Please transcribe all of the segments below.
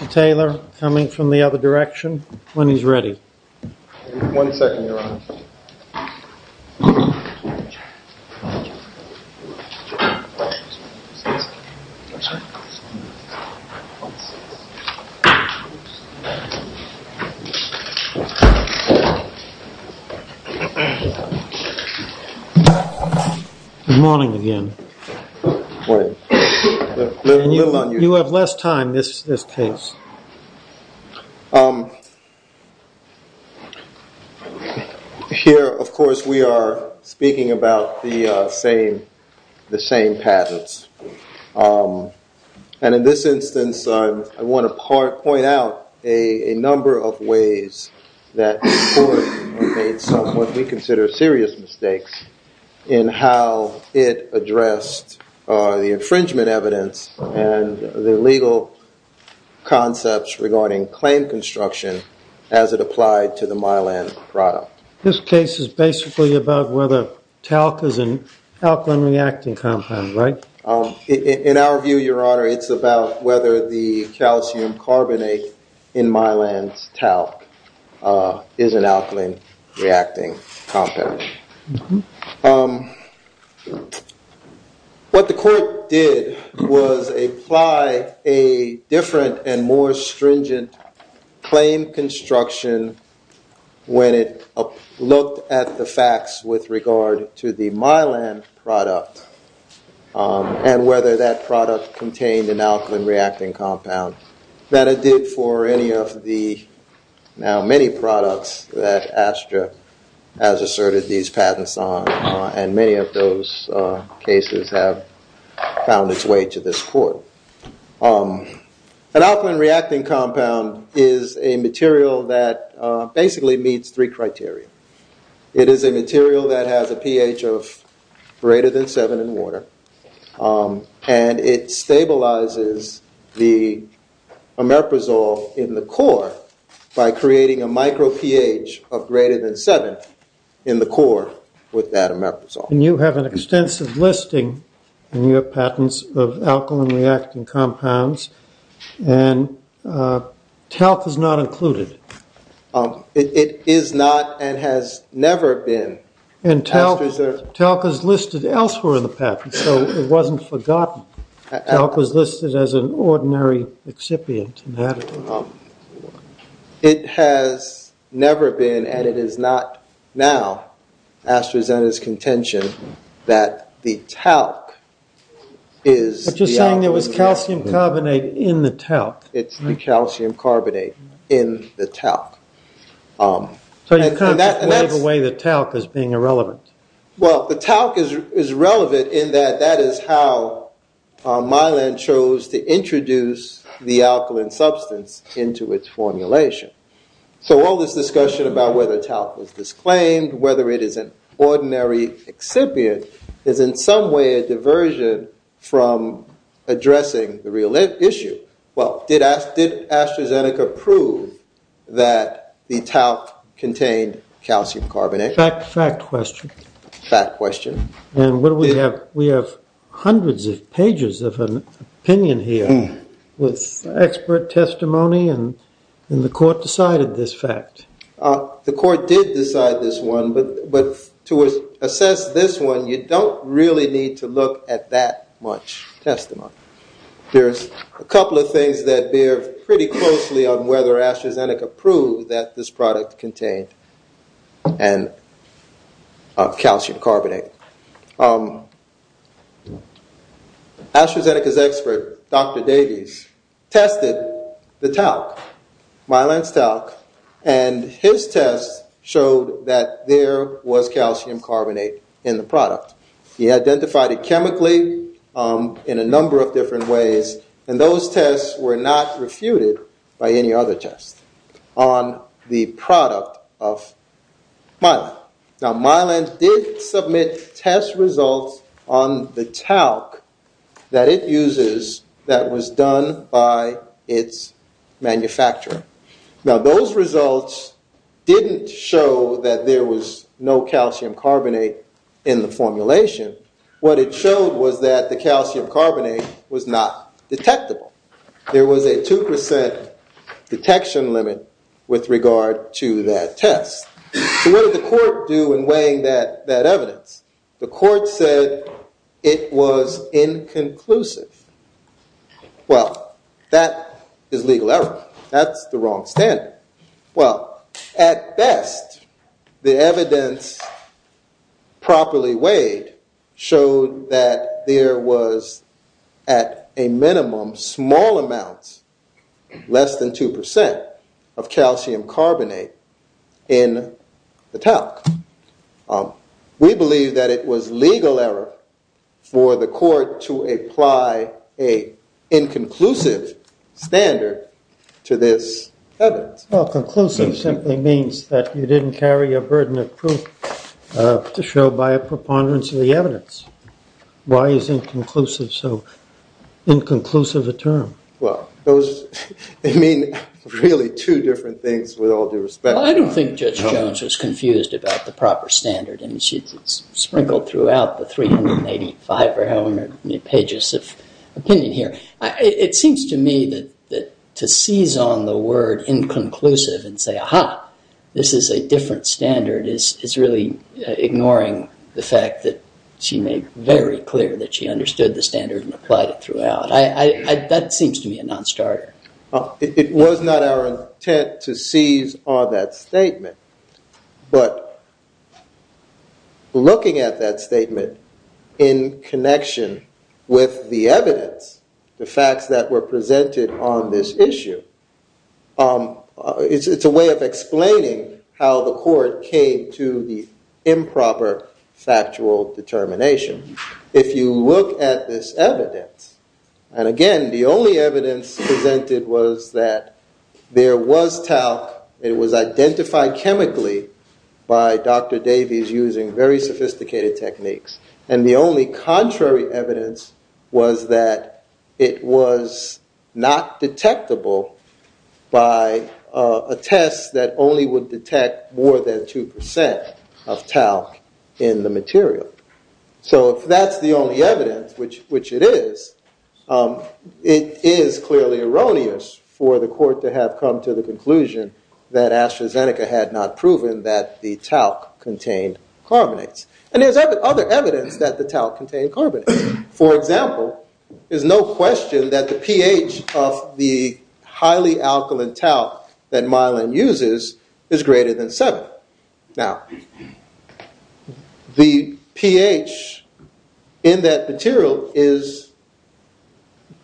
Mr. Taylor, coming from the other direction, when he's ready. One second, Your Honor. Good morning again. Morning. You have less time, this case. Here, of course, we are speaking about the same patents. And in this instance, I want to point out a number of ways that the court made some of what we consider serious mistakes in how it addressed the infringement evidence and the legal concepts regarding claim construction as it applied to the Mylan product. This case is basically about whether talc is an alkaline reacting compound, right? In our view, Your Honor, it's about whether the calcium carbonate in Mylan's talc is an alkaline reacting compound. What the court did was apply a different and more stringent claim construction when it looked at the facts with regard to the Mylan product and whether that product contained an alkaline reacting compound that it did for any of the now many products that Astra has asserted these patents on. And many of those cases have found its way to this court. An alkaline reacting compound is a material that basically meets three criteria. It is a material that has a pH of greater than seven in water. And it stabilizes the ameprazole in the core by creating a micro pH of greater than seven in the core with that ameprazole. And you have an extensive listing in your patents of alkaline reacting compounds. And talc is not included. It is not and has never been. And talc is listed elsewhere in the patent, so it wasn't forgotten. Talc was listed as an ordinary excipient in that. It has never been and it is not now Astra Zeta's contention that the talc is the alkaline reacting compound. But you're saying there was calcium carbonate in the talc. It's the calcium carbonate in the talc. So you kind of wave away the talc as being irrelevant. Well, the talc is relevant in that that is how Mylan chose to introduce the alkaline substance into its formulation. So all this discussion about whether talc was disclaimed, whether it is an ordinary excipient, is in some way a diversion from addressing the real issue. Well, did AstraZeneca prove that the talc contained calcium carbonate? Fact question. Fact question. And we have hundreds of pages of an opinion here with expert testimony and the court decided this fact. The court did decide this one, but to assess this one, you don't really need to look at that much testimony. There's a couple of things that bear pretty closely on whether AstraZeneca proved that this product contained calcium carbonate. AstraZeneca's expert, Dr. Davies, tested the talc, Mylan's talc, and his test showed that there was calcium carbonate in the product. He identified it chemically in a number of different ways, and those tests were not refuted by any other test on the product of Mylan. Now, Mylan did submit test results on the talc that it uses that was done by its manufacturer. Now, those results didn't show that there was no calcium carbonate in the formulation. What it showed was that the calcium carbonate was not detectable. There was a 2% detection limit with regard to that test. So what did the court do in weighing that evidence? The court said it was inconclusive. Well, that is legal error. That's the wrong standard. Well, at best, the evidence properly weighed showed that there was, at a minimum, small amounts, less than 2%, of calcium carbonate in the talc. We believe that it was legal error for the court to apply an inconclusive standard to this evidence. Well, conclusive simply means that you didn't carry a burden of proof to show by a preponderance of the evidence. Why is inconclusive so inconclusive a term? Well, they mean really two different things with all due respect. Well, I don't think Judge Jones was confused about the proper standard. I mean, she sprinkled throughout the 385 or however many pages of opinion here. It seems to me that to seize on the word inconclusive and say, aha, this is a different standard, is really ignoring the fact that she made very clear that she understood the standard and applied it throughout. That seems to me a non-starter. It was not our intent to seize on that statement. But looking at that statement in connection with the evidence, the facts that were presented on this issue, it's a way of explaining how the court came to the improper factual determination. If you look at this evidence, and again, the only evidence presented was that there was talc. It was identified chemically by Dr. Davies using very sophisticated techniques. And the only contrary evidence was that it was not detectable by a test that only would detect more than 2% of talc in the material. So if that's the only evidence, which it is, it is clearly erroneous for the court to have come to the conclusion that AstraZeneca had not proven that the talc contained carbonates. And there's other evidence that the talc contained carbonates. For example, there's no question that the pH of the highly alkaline talc that Mylan uses is greater than 7. Now, the pH in that material is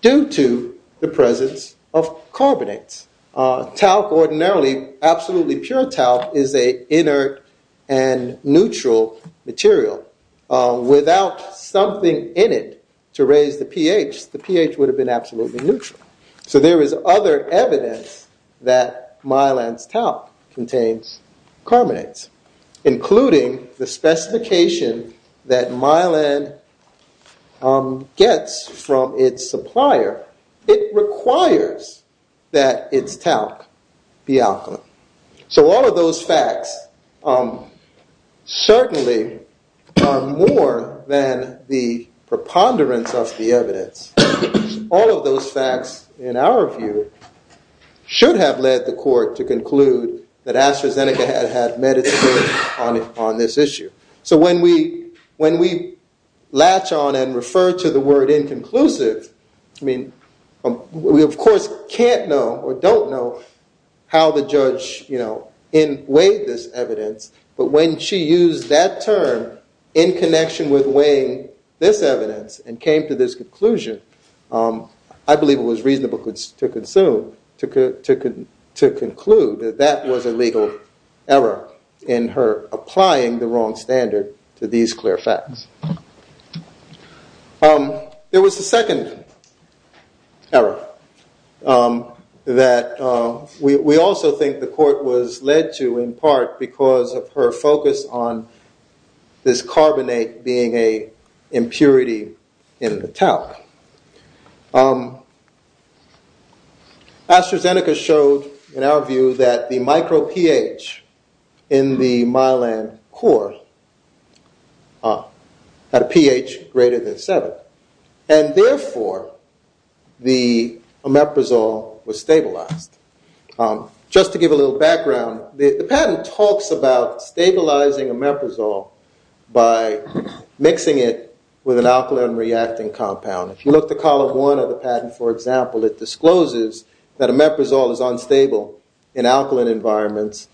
due to the presence of carbonates. Talc ordinarily, absolutely pure talc, is a inert and neutral material. Without something in it to raise the pH, the pH would have been absolutely neutral. So there is other evidence that Mylan's talc contains carbonates, including the specification that Mylan gets from its supplier. It requires that its talc be alkaline. So all of those facts certainly are more than the preponderance of the evidence. All of those facts, in our view, should have led the court to conclude that AstraZeneca had medicated on this issue. So when we latch on and refer to the word inconclusive, I mean, we of course can't know or don't know how the judge weighed this evidence. But when she used that term in connection with weighing this evidence and came to this conclusion, I believe it was reasonable to conclude that that was a legal error in her applying the wrong standard to these clear facts. There was a second error that we also think the court was led to in part because of her focus on this carbonate being an impurity in the talc. AstraZeneca showed, in our view, that the micro-pH in the Mylan core had a pH greater than 7. And therefore, the omeprazole was stabilized. Just to give a little background, the patent talks about stabilizing omeprazole by mixing it with an alkaline reacting compound. If you look at Column 1 of the patent, for example, it discloses that omeprazole is unstable in acidic environments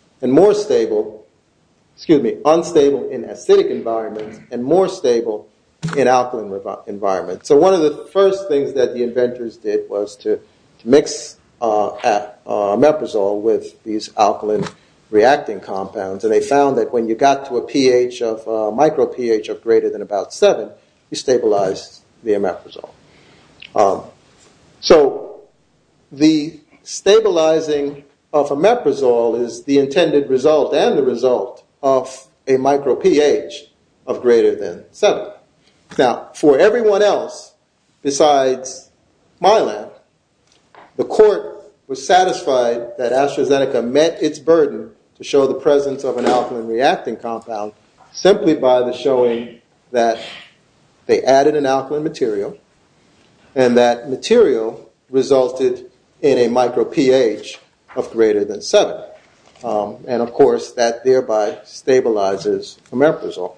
and more stable in alkaline environments. So one of the first things that the inventors did was to mix omeprazole with these alkaline reacting compounds. And they found that when you got to a micro-pH of greater than about 7, you stabilized the omeprazole. So the stabilizing of omeprazole is the intended result and the result of a micro-pH of greater than 7. Now, for everyone else besides Mylan, the court was satisfied that AstraZeneca met its burden to show the presence of an alkaline reacting compound simply by the showing that they added an alkaline material and that material resulted in a micro-pH of greater than 7. And of course, that thereby stabilizes omeprazole.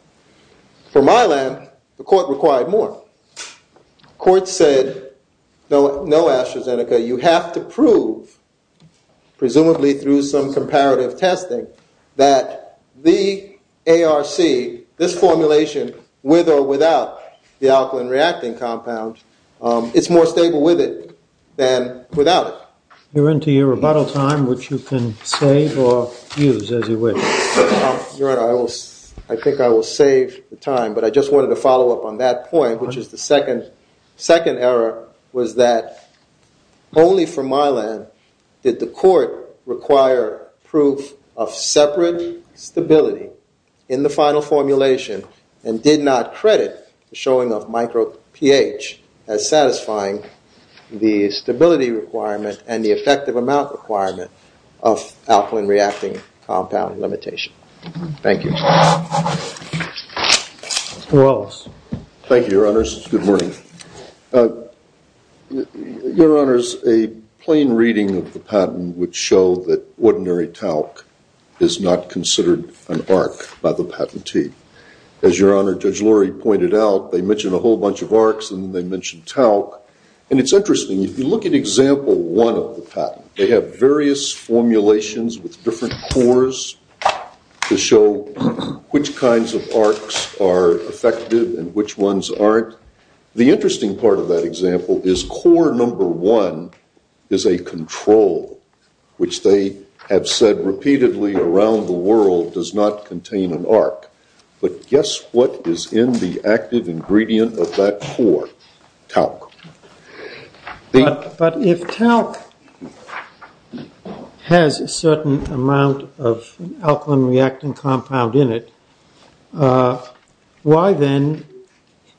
For Mylan, the court required more. The court said, no AstraZeneca, you have to prove, presumably through some comparative testing, that the ARC, this formulation, with or without the alkaline reacting compound, it's more stable with it than without it. You're into your rebuttal time, which you can save or use as you wish. Your Honor, I think I will save the time, but I just wanted to follow up on that point, which is the second error was that only for Mylan did the court require proof of separate stability in the final formulation and did not credit the showing of micro-pH as satisfying the stability requirement and the effective amount requirement of alkaline reacting compound limitation. Thank you. Thank you, Your Honors. Good morning. Your Honors, a plain reading of the patent would show that ordinary talc is not considered an ARC by the patentee. As Your Honor, Judge Lurie pointed out, they mentioned a whole bunch of ARCs and they mentioned talc. And it's interesting, if you look at example one of the patent, they have various formulations with different cores to show which kinds of ARCs are effective and which ones aren't. The interesting part of that example is core number one is a control, which they have said repeatedly around the world does not contain an ARC. But guess what is in the active ingredient of that core? Talc. But if talc has a certain amount of alkaline reacting compound in it, why then,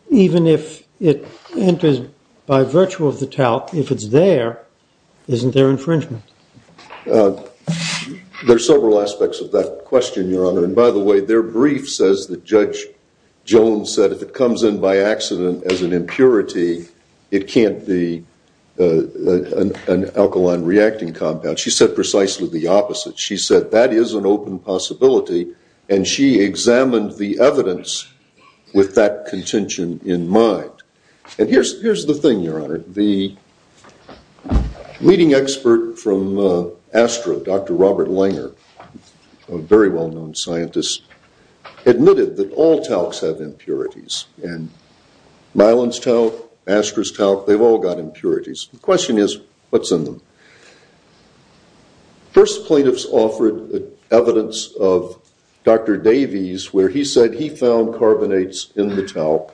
even if it enters by virtue of the talc, if it's there, isn't there infringement? There are several aspects of that question, Your Honor. And by the way, their brief says that Judge Jones said if it comes in by accident as an impurity, it can't be an alkaline reacting compound. She said precisely the opposite. She said that is an open possibility. And she examined the evidence with that contention in mind. And here's the thing, Your Honor. The leading expert from Astra, Dr. Robert Langer, a very well-known scientist, admitted that all talcs have impurities. And myelin's talc, Astra's talc, they've all got impurities. The question is, what's in them? First, plaintiffs offered evidence of Dr. Davies where he said he found carbonates in the talc.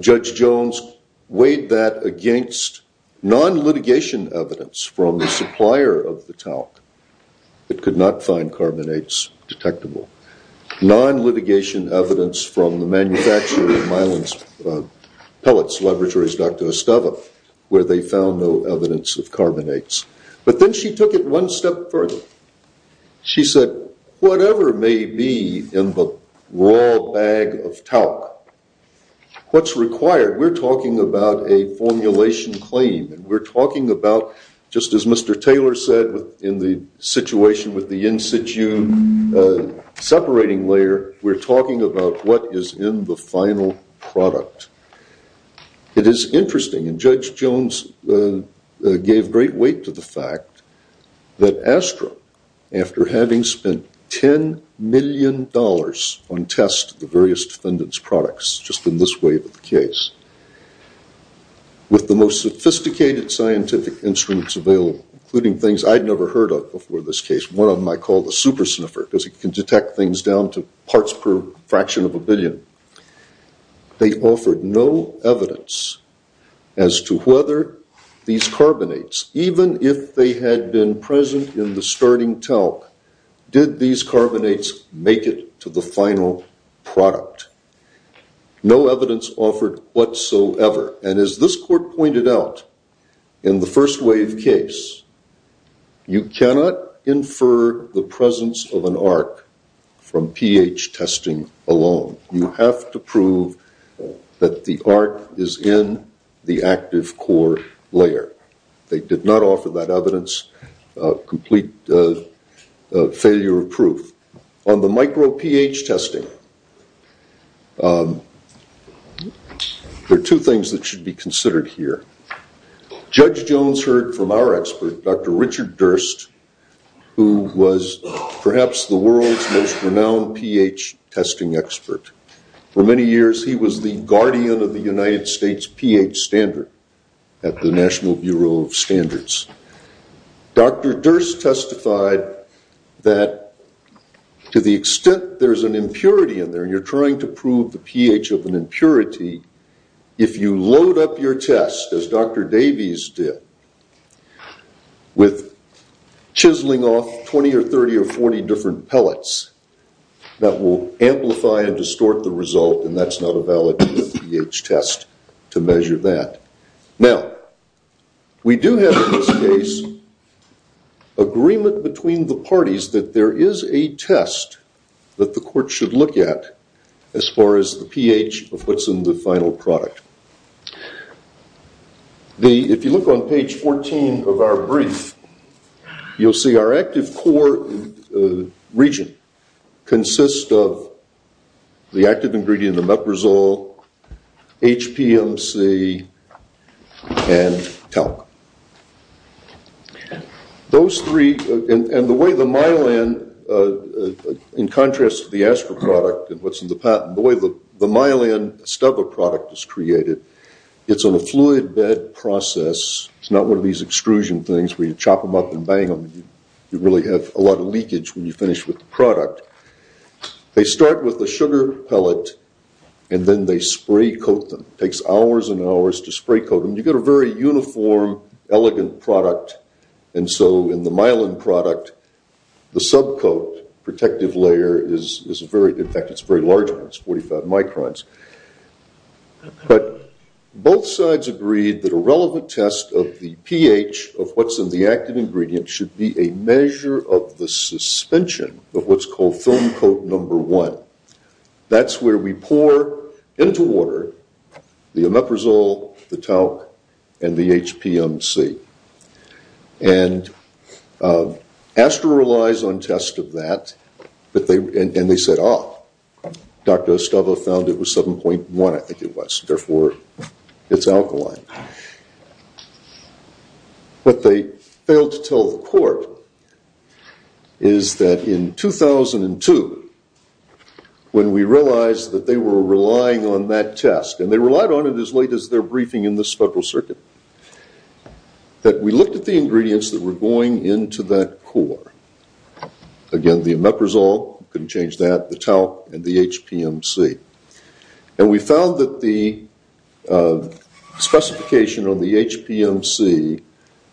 Judge Jones weighed that against non-litigation evidence from the supplier of the talc. It could not find carbonates detectable. Non-litigation evidence from the manufacturer of myelin pellets, Laboratory's Dr. Estava, where they found no evidence of carbonates. But then she took it one step further. She said, whatever may be in the raw bag of talc, what's required? We're talking about a formulation claim. We're talking about, just as Mr. Taylor said in the situation with the in-situ separating layer, we're talking about what is in the final product. It is interesting, and Judge Jones gave great weight to the fact that Astra, after having spent $10 million on tests of the various defendants' products, just in this wave of the case, with the most sophisticated scientific instruments available, including things I'd never heard of before this case, one of them I call the super sniffer because it can detect things down to parts per fraction of a billion, they offered no evidence as to whether these carbonates, even if they had been present in the starting talc, did these carbonates make it to the final product. No evidence offered whatsoever. And as this court pointed out in the first wave case, you cannot infer the presence of an arc from pH testing alone. You have to prove that the arc is in the active core layer. They did not offer that evidence, complete failure of proof. On the micro pH testing, there are two things that should be considered here. Judge Jones heard from our expert, Dr. Richard Durst, who was perhaps the world's most renowned pH testing expert. For many years, he was the guardian of the United States pH standard at the National Bureau of Standards. Dr. Durst testified that to the extent there's an impurity in there, when you're trying to prove the pH of an impurity, if you load up your test, as Dr. Davies did, with chiseling off 20 or 30 or 40 different pellets, that will amplify and distort the result, and that's not a valid pH test to measure that. Now, we do have in this case agreement between the parties that there is a test that the court should look at as far as the pH of what's in the final product. If you look on page 14 of our brief, you'll see our active core region consists of the active ingredient, the meprosol, HPMC, and talc. Those three, and the way the myelin, in contrast to the ASPR product and what's in the patent, the way the myelin stubble product is created, it's on a fluid bed process. It's not one of these extrusion things where you chop them up and bang them, and you really have a lot of leakage when you finish with the product. They start with the sugar pellet, and then they spray coat them. It takes hours and hours to spray coat them. You get a very uniform, elegant product, and so in the myelin product, the subcoat protective layer is very large. It's 45 microns. But both sides agreed that a relevant test of the pH of what's in the active ingredient should be a measure of the suspension of what's called film coat number one. That's where we pour into water the meprosol, the talc, and the HPMC. And ASPR relies on tests of that, and they said, ah, Dr. Stubble found it was 7.1, I think it was, therefore it's alkaline. What they failed to tell the court is that in 2002, when we realized that they were relying on that test, and they relied on it as late as their briefing in the Federal Circuit, that we looked at the ingredients that were going into that core. Again, the meprosol, couldn't change that, the talc, and the HPMC. And we found that the specification on the HPMC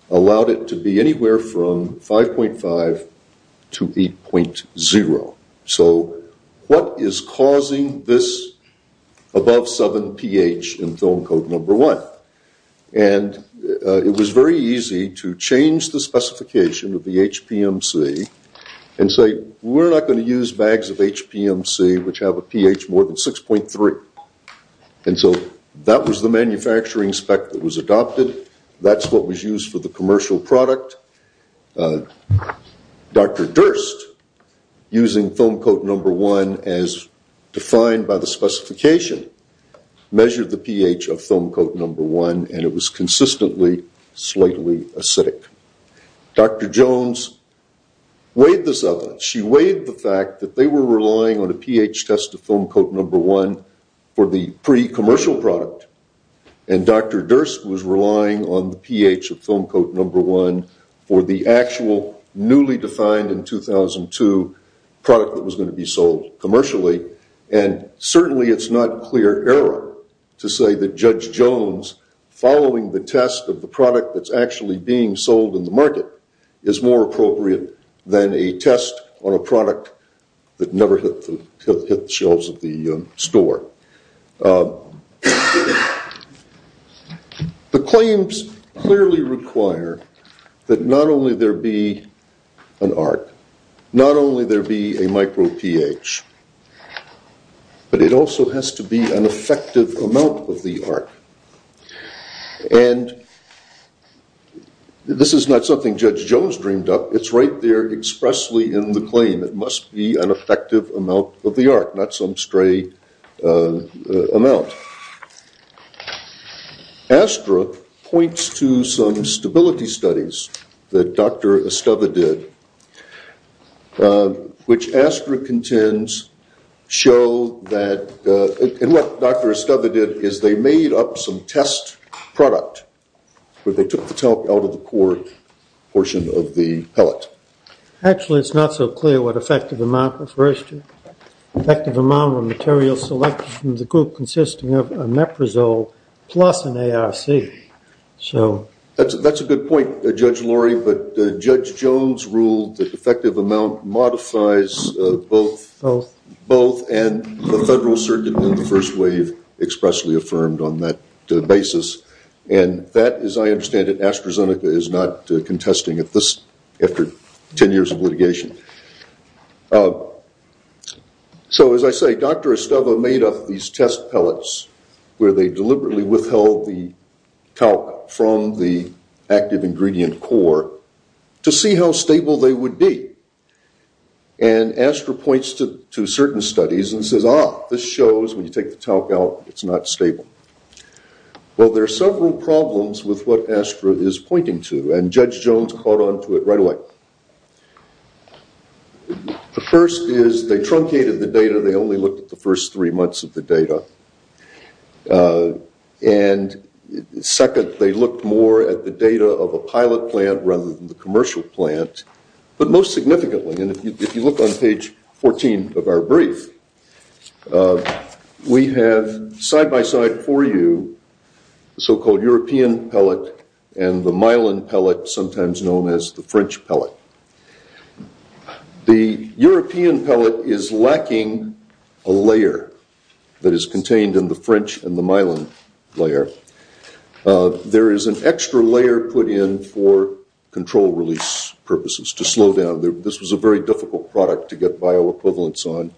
allowed it to be anywhere from 5.5 to 8.0. So what is causing this above 7 pH in film coat number one? And it was very easy to change the specification of the HPMC and say, we're not going to use bags of HPMC which have a pH more than 6.3. And so that was the manufacturing spec that was adopted. That's what was used for the commercial product. Dr. Durst, using film coat number one as defined by the specification, measured the pH of film coat number one, and it was consistently slightly acidic. Dr. Jones weighed this evidence. She weighed the fact that they were relying on a pH test of film coat number one for the pre-commercial product. And Dr. Durst was relying on the pH of film coat number one for the actual newly defined in 2002 product that was going to be sold commercially. And certainly it's not clear error to say that Judge Jones, following the test of the product that's actually being sold in the market, is more appropriate than a test on a product that never hit the shelves of the store. The claims clearly require that not only there be an arc, not only there be a micro pH, but it also has to be an effective amount of the arc. And this is not something Judge Jones dreamed up. It's right there expressly in the claim. It must be an effective amount of the arc, not some stray amount. Astra points to some stability studies that Dr. Estava did, which Astra contends show that, and what Dr. Estava did is they made up some test product where they took the talc out of the core portion of the pellet. Actually, it's not so clear what effective amount refers to. Effective amount of material selected from the group consisting of a naprazole plus an ARC. That's a good point, Judge Laurie, but Judge Jones ruled that effective amount modifies both and the federal circuit in the first wave expressly affirmed on that basis. And that, as I understand it, AstraZeneca is not contesting it after 10 years of litigation. So as I say, Dr. Estava made up these test pellets where they deliberately withheld the talc from the active ingredient core to see how stable they would be. And Astra points to certain studies and says, ah, this shows when you take the talc out, it's not stable. Well, there are several problems with what Astra is pointing to, and Judge Jones caught on to it right away. The first is they truncated the data. They only looked at the first three months of the data. And second, they looked more at the data of a pilot plant rather than the commercial plant. But most significantly, and if you look on page 14 of our brief, we have side by side for you the so-called European pellet and the myelin pellet, sometimes known as the French pellet. The European pellet is lacking a layer that is contained in the French and the myelin layer. There is an extra layer put in for control release purposes to slow down. This was a very difficult product to get bioequivalence on,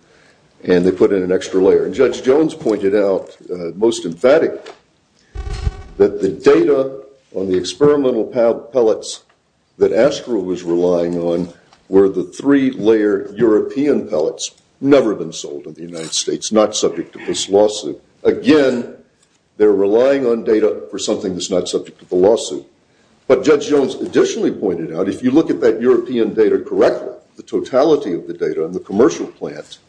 and they put in an extra layer. And Judge Jones pointed out, most emphatically, that the data on the experimental pellets that Astra was relying on were the three-layer European pellets, never been sold in the United States, not subject to this lawsuit. Again, they're relying on data for something that's not subject to the lawsuit. But Judge Jones additionally pointed out, if you look at that European data correctly, if you look at the totality of the data on the commercial plant,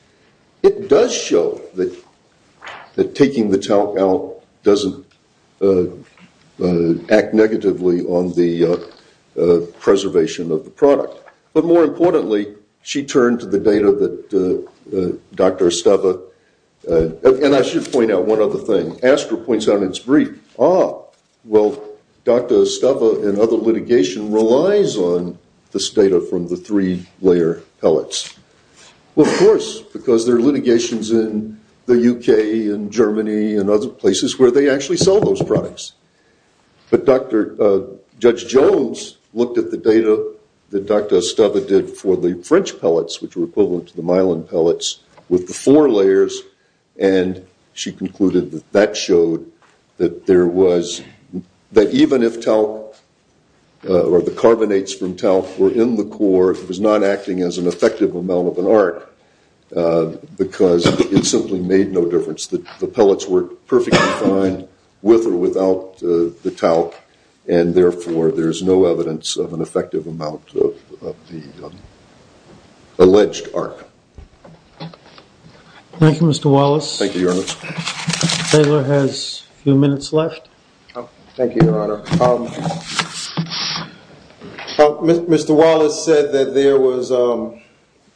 it does show that taking the talc out doesn't act negatively on the preservation of the product. But more importantly, she turned to the data that Dr. Estava, and I should point out one other thing, Astra points out in its brief, ah, well, Dr. Estava and other litigation relies on this data from the three-layer pellets. Well, of course, because there are litigations in the UK and Germany and other places where they actually sell those products. But Judge Jones looked at the data that Dr. Estava did for the French pellets, which were equivalent to the myelin pellets, with the four layers, and she concluded that that showed that there was, that even if talc or the carbonates from talc were in the core, it was not acting as an effective amount of an arc because it simply made no difference. The pellets were perfectly fine with or without the talc, and therefore there is no evidence of an effective amount of the alleged arc. Thank you, Mr. Wallace. Thank you, Your Honor. Taylor has a few minutes left. Thank you, Your Honor. Mr. Wallace said that there was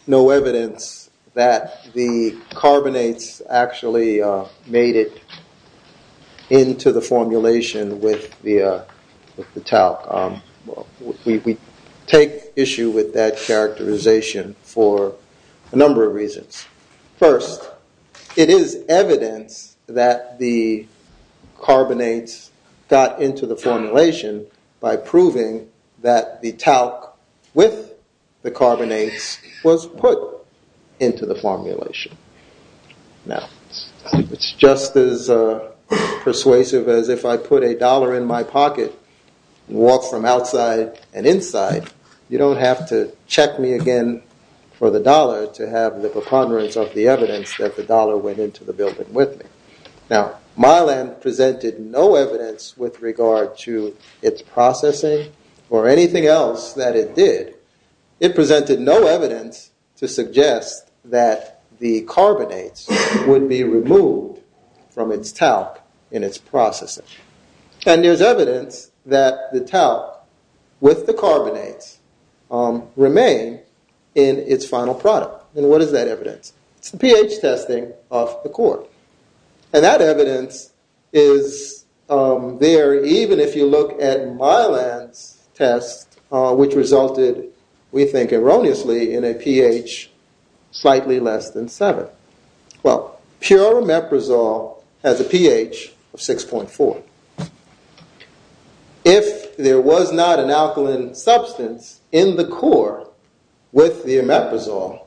no evidence that the carbonates actually made it into the formulation with the talc. We take issue with that characterization for a number of reasons. First, it is evidence that the carbonates got into the formulation by proving that the talc with the carbonates was put into the formulation. Now, it's just as persuasive as if I put a dollar in my pocket and walk from outside and inside, you don't have to check me again for the dollar to have the preponderance of the evidence that the dollar went into the building with me. Now, myelin presented no evidence with regard to its processing or anything else that it did. It presented no evidence to suggest that the carbonates would be removed from its talc in its processing. And there's evidence that the talc with the carbonates remain in its final product. And what is that evidence? It's the pH testing of the core. And that evidence is there even if you look at myelin's test, which resulted, we think erroneously, in a pH slightly less than 7. Well, pure omeprazole has a pH of 6.4. If there was not an alkaline substance in the core with the omeprazole,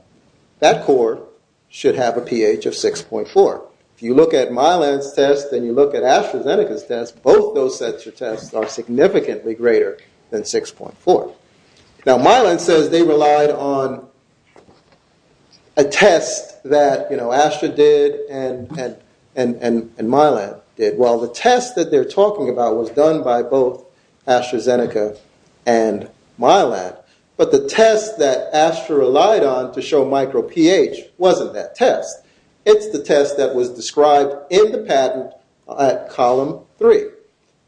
that core should have a pH of 6.4. If you look at myelin's test and you look at AstraZeneca's test, both those sets of tests are significantly greater than 6.4. Now, myelin says they relied on a test that, you know, Astra did and myelin did. Well, the test that they're talking about was done by both AstraZeneca and myelin. But the test that Astra relied on to show micro pH wasn't that test. It's the test that was described in the patent at column 3,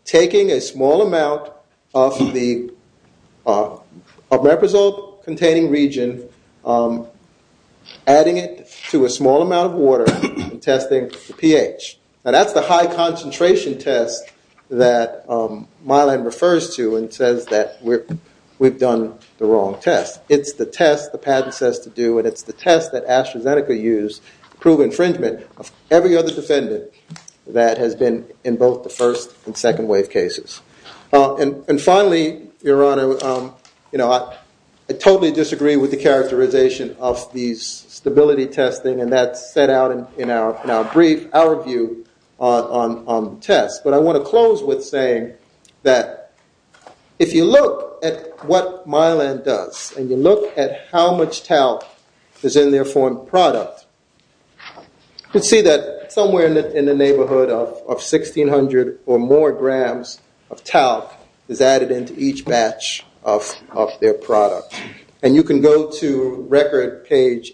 taking a small amount of the omeprazole-containing region, adding it to a small amount of water, and testing the pH. Now, that's the high-concentration test that myelin refers to and says that we've done the wrong test. It's the test the patent says to do. And it's the test that AstraZeneca used to prove infringement of every other defendant that has been in both the first and second wave cases. And finally, Your Honor, you know, I totally disagree with the characterization of these stability testing. And that's set out in our brief, our view on tests. But I want to close with saying that if you look at what myelin does and you look at how much talc is in their foreign product, you can see that somewhere in the neighborhood of 1,600 or more grams of talc is added into each batch of their product. And you can go to record page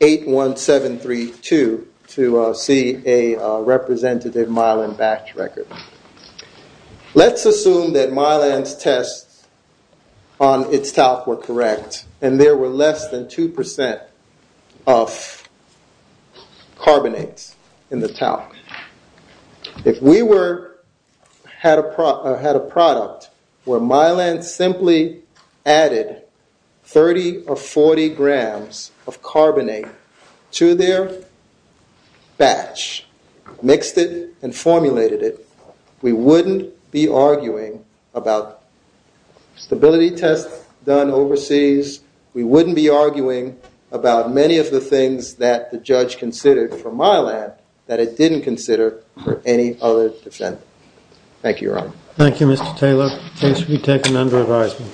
A81732 to see a representative myelin batch record. Let's assume that myelin's tests on its talc were correct and there were less than 2% of carbonates in the talc. If we had a product where myelin simply added 30 or 40 grams of carbonate to their batch, mixed it and formulated it, we wouldn't be arguing about stability tests done overseas. We wouldn't be arguing about many of the things that the judge considered for myelin that it didn't consider for any other defendant. Thank you, Your Honor. Thank you, Mr. Taylor. The case will be taken under advisement.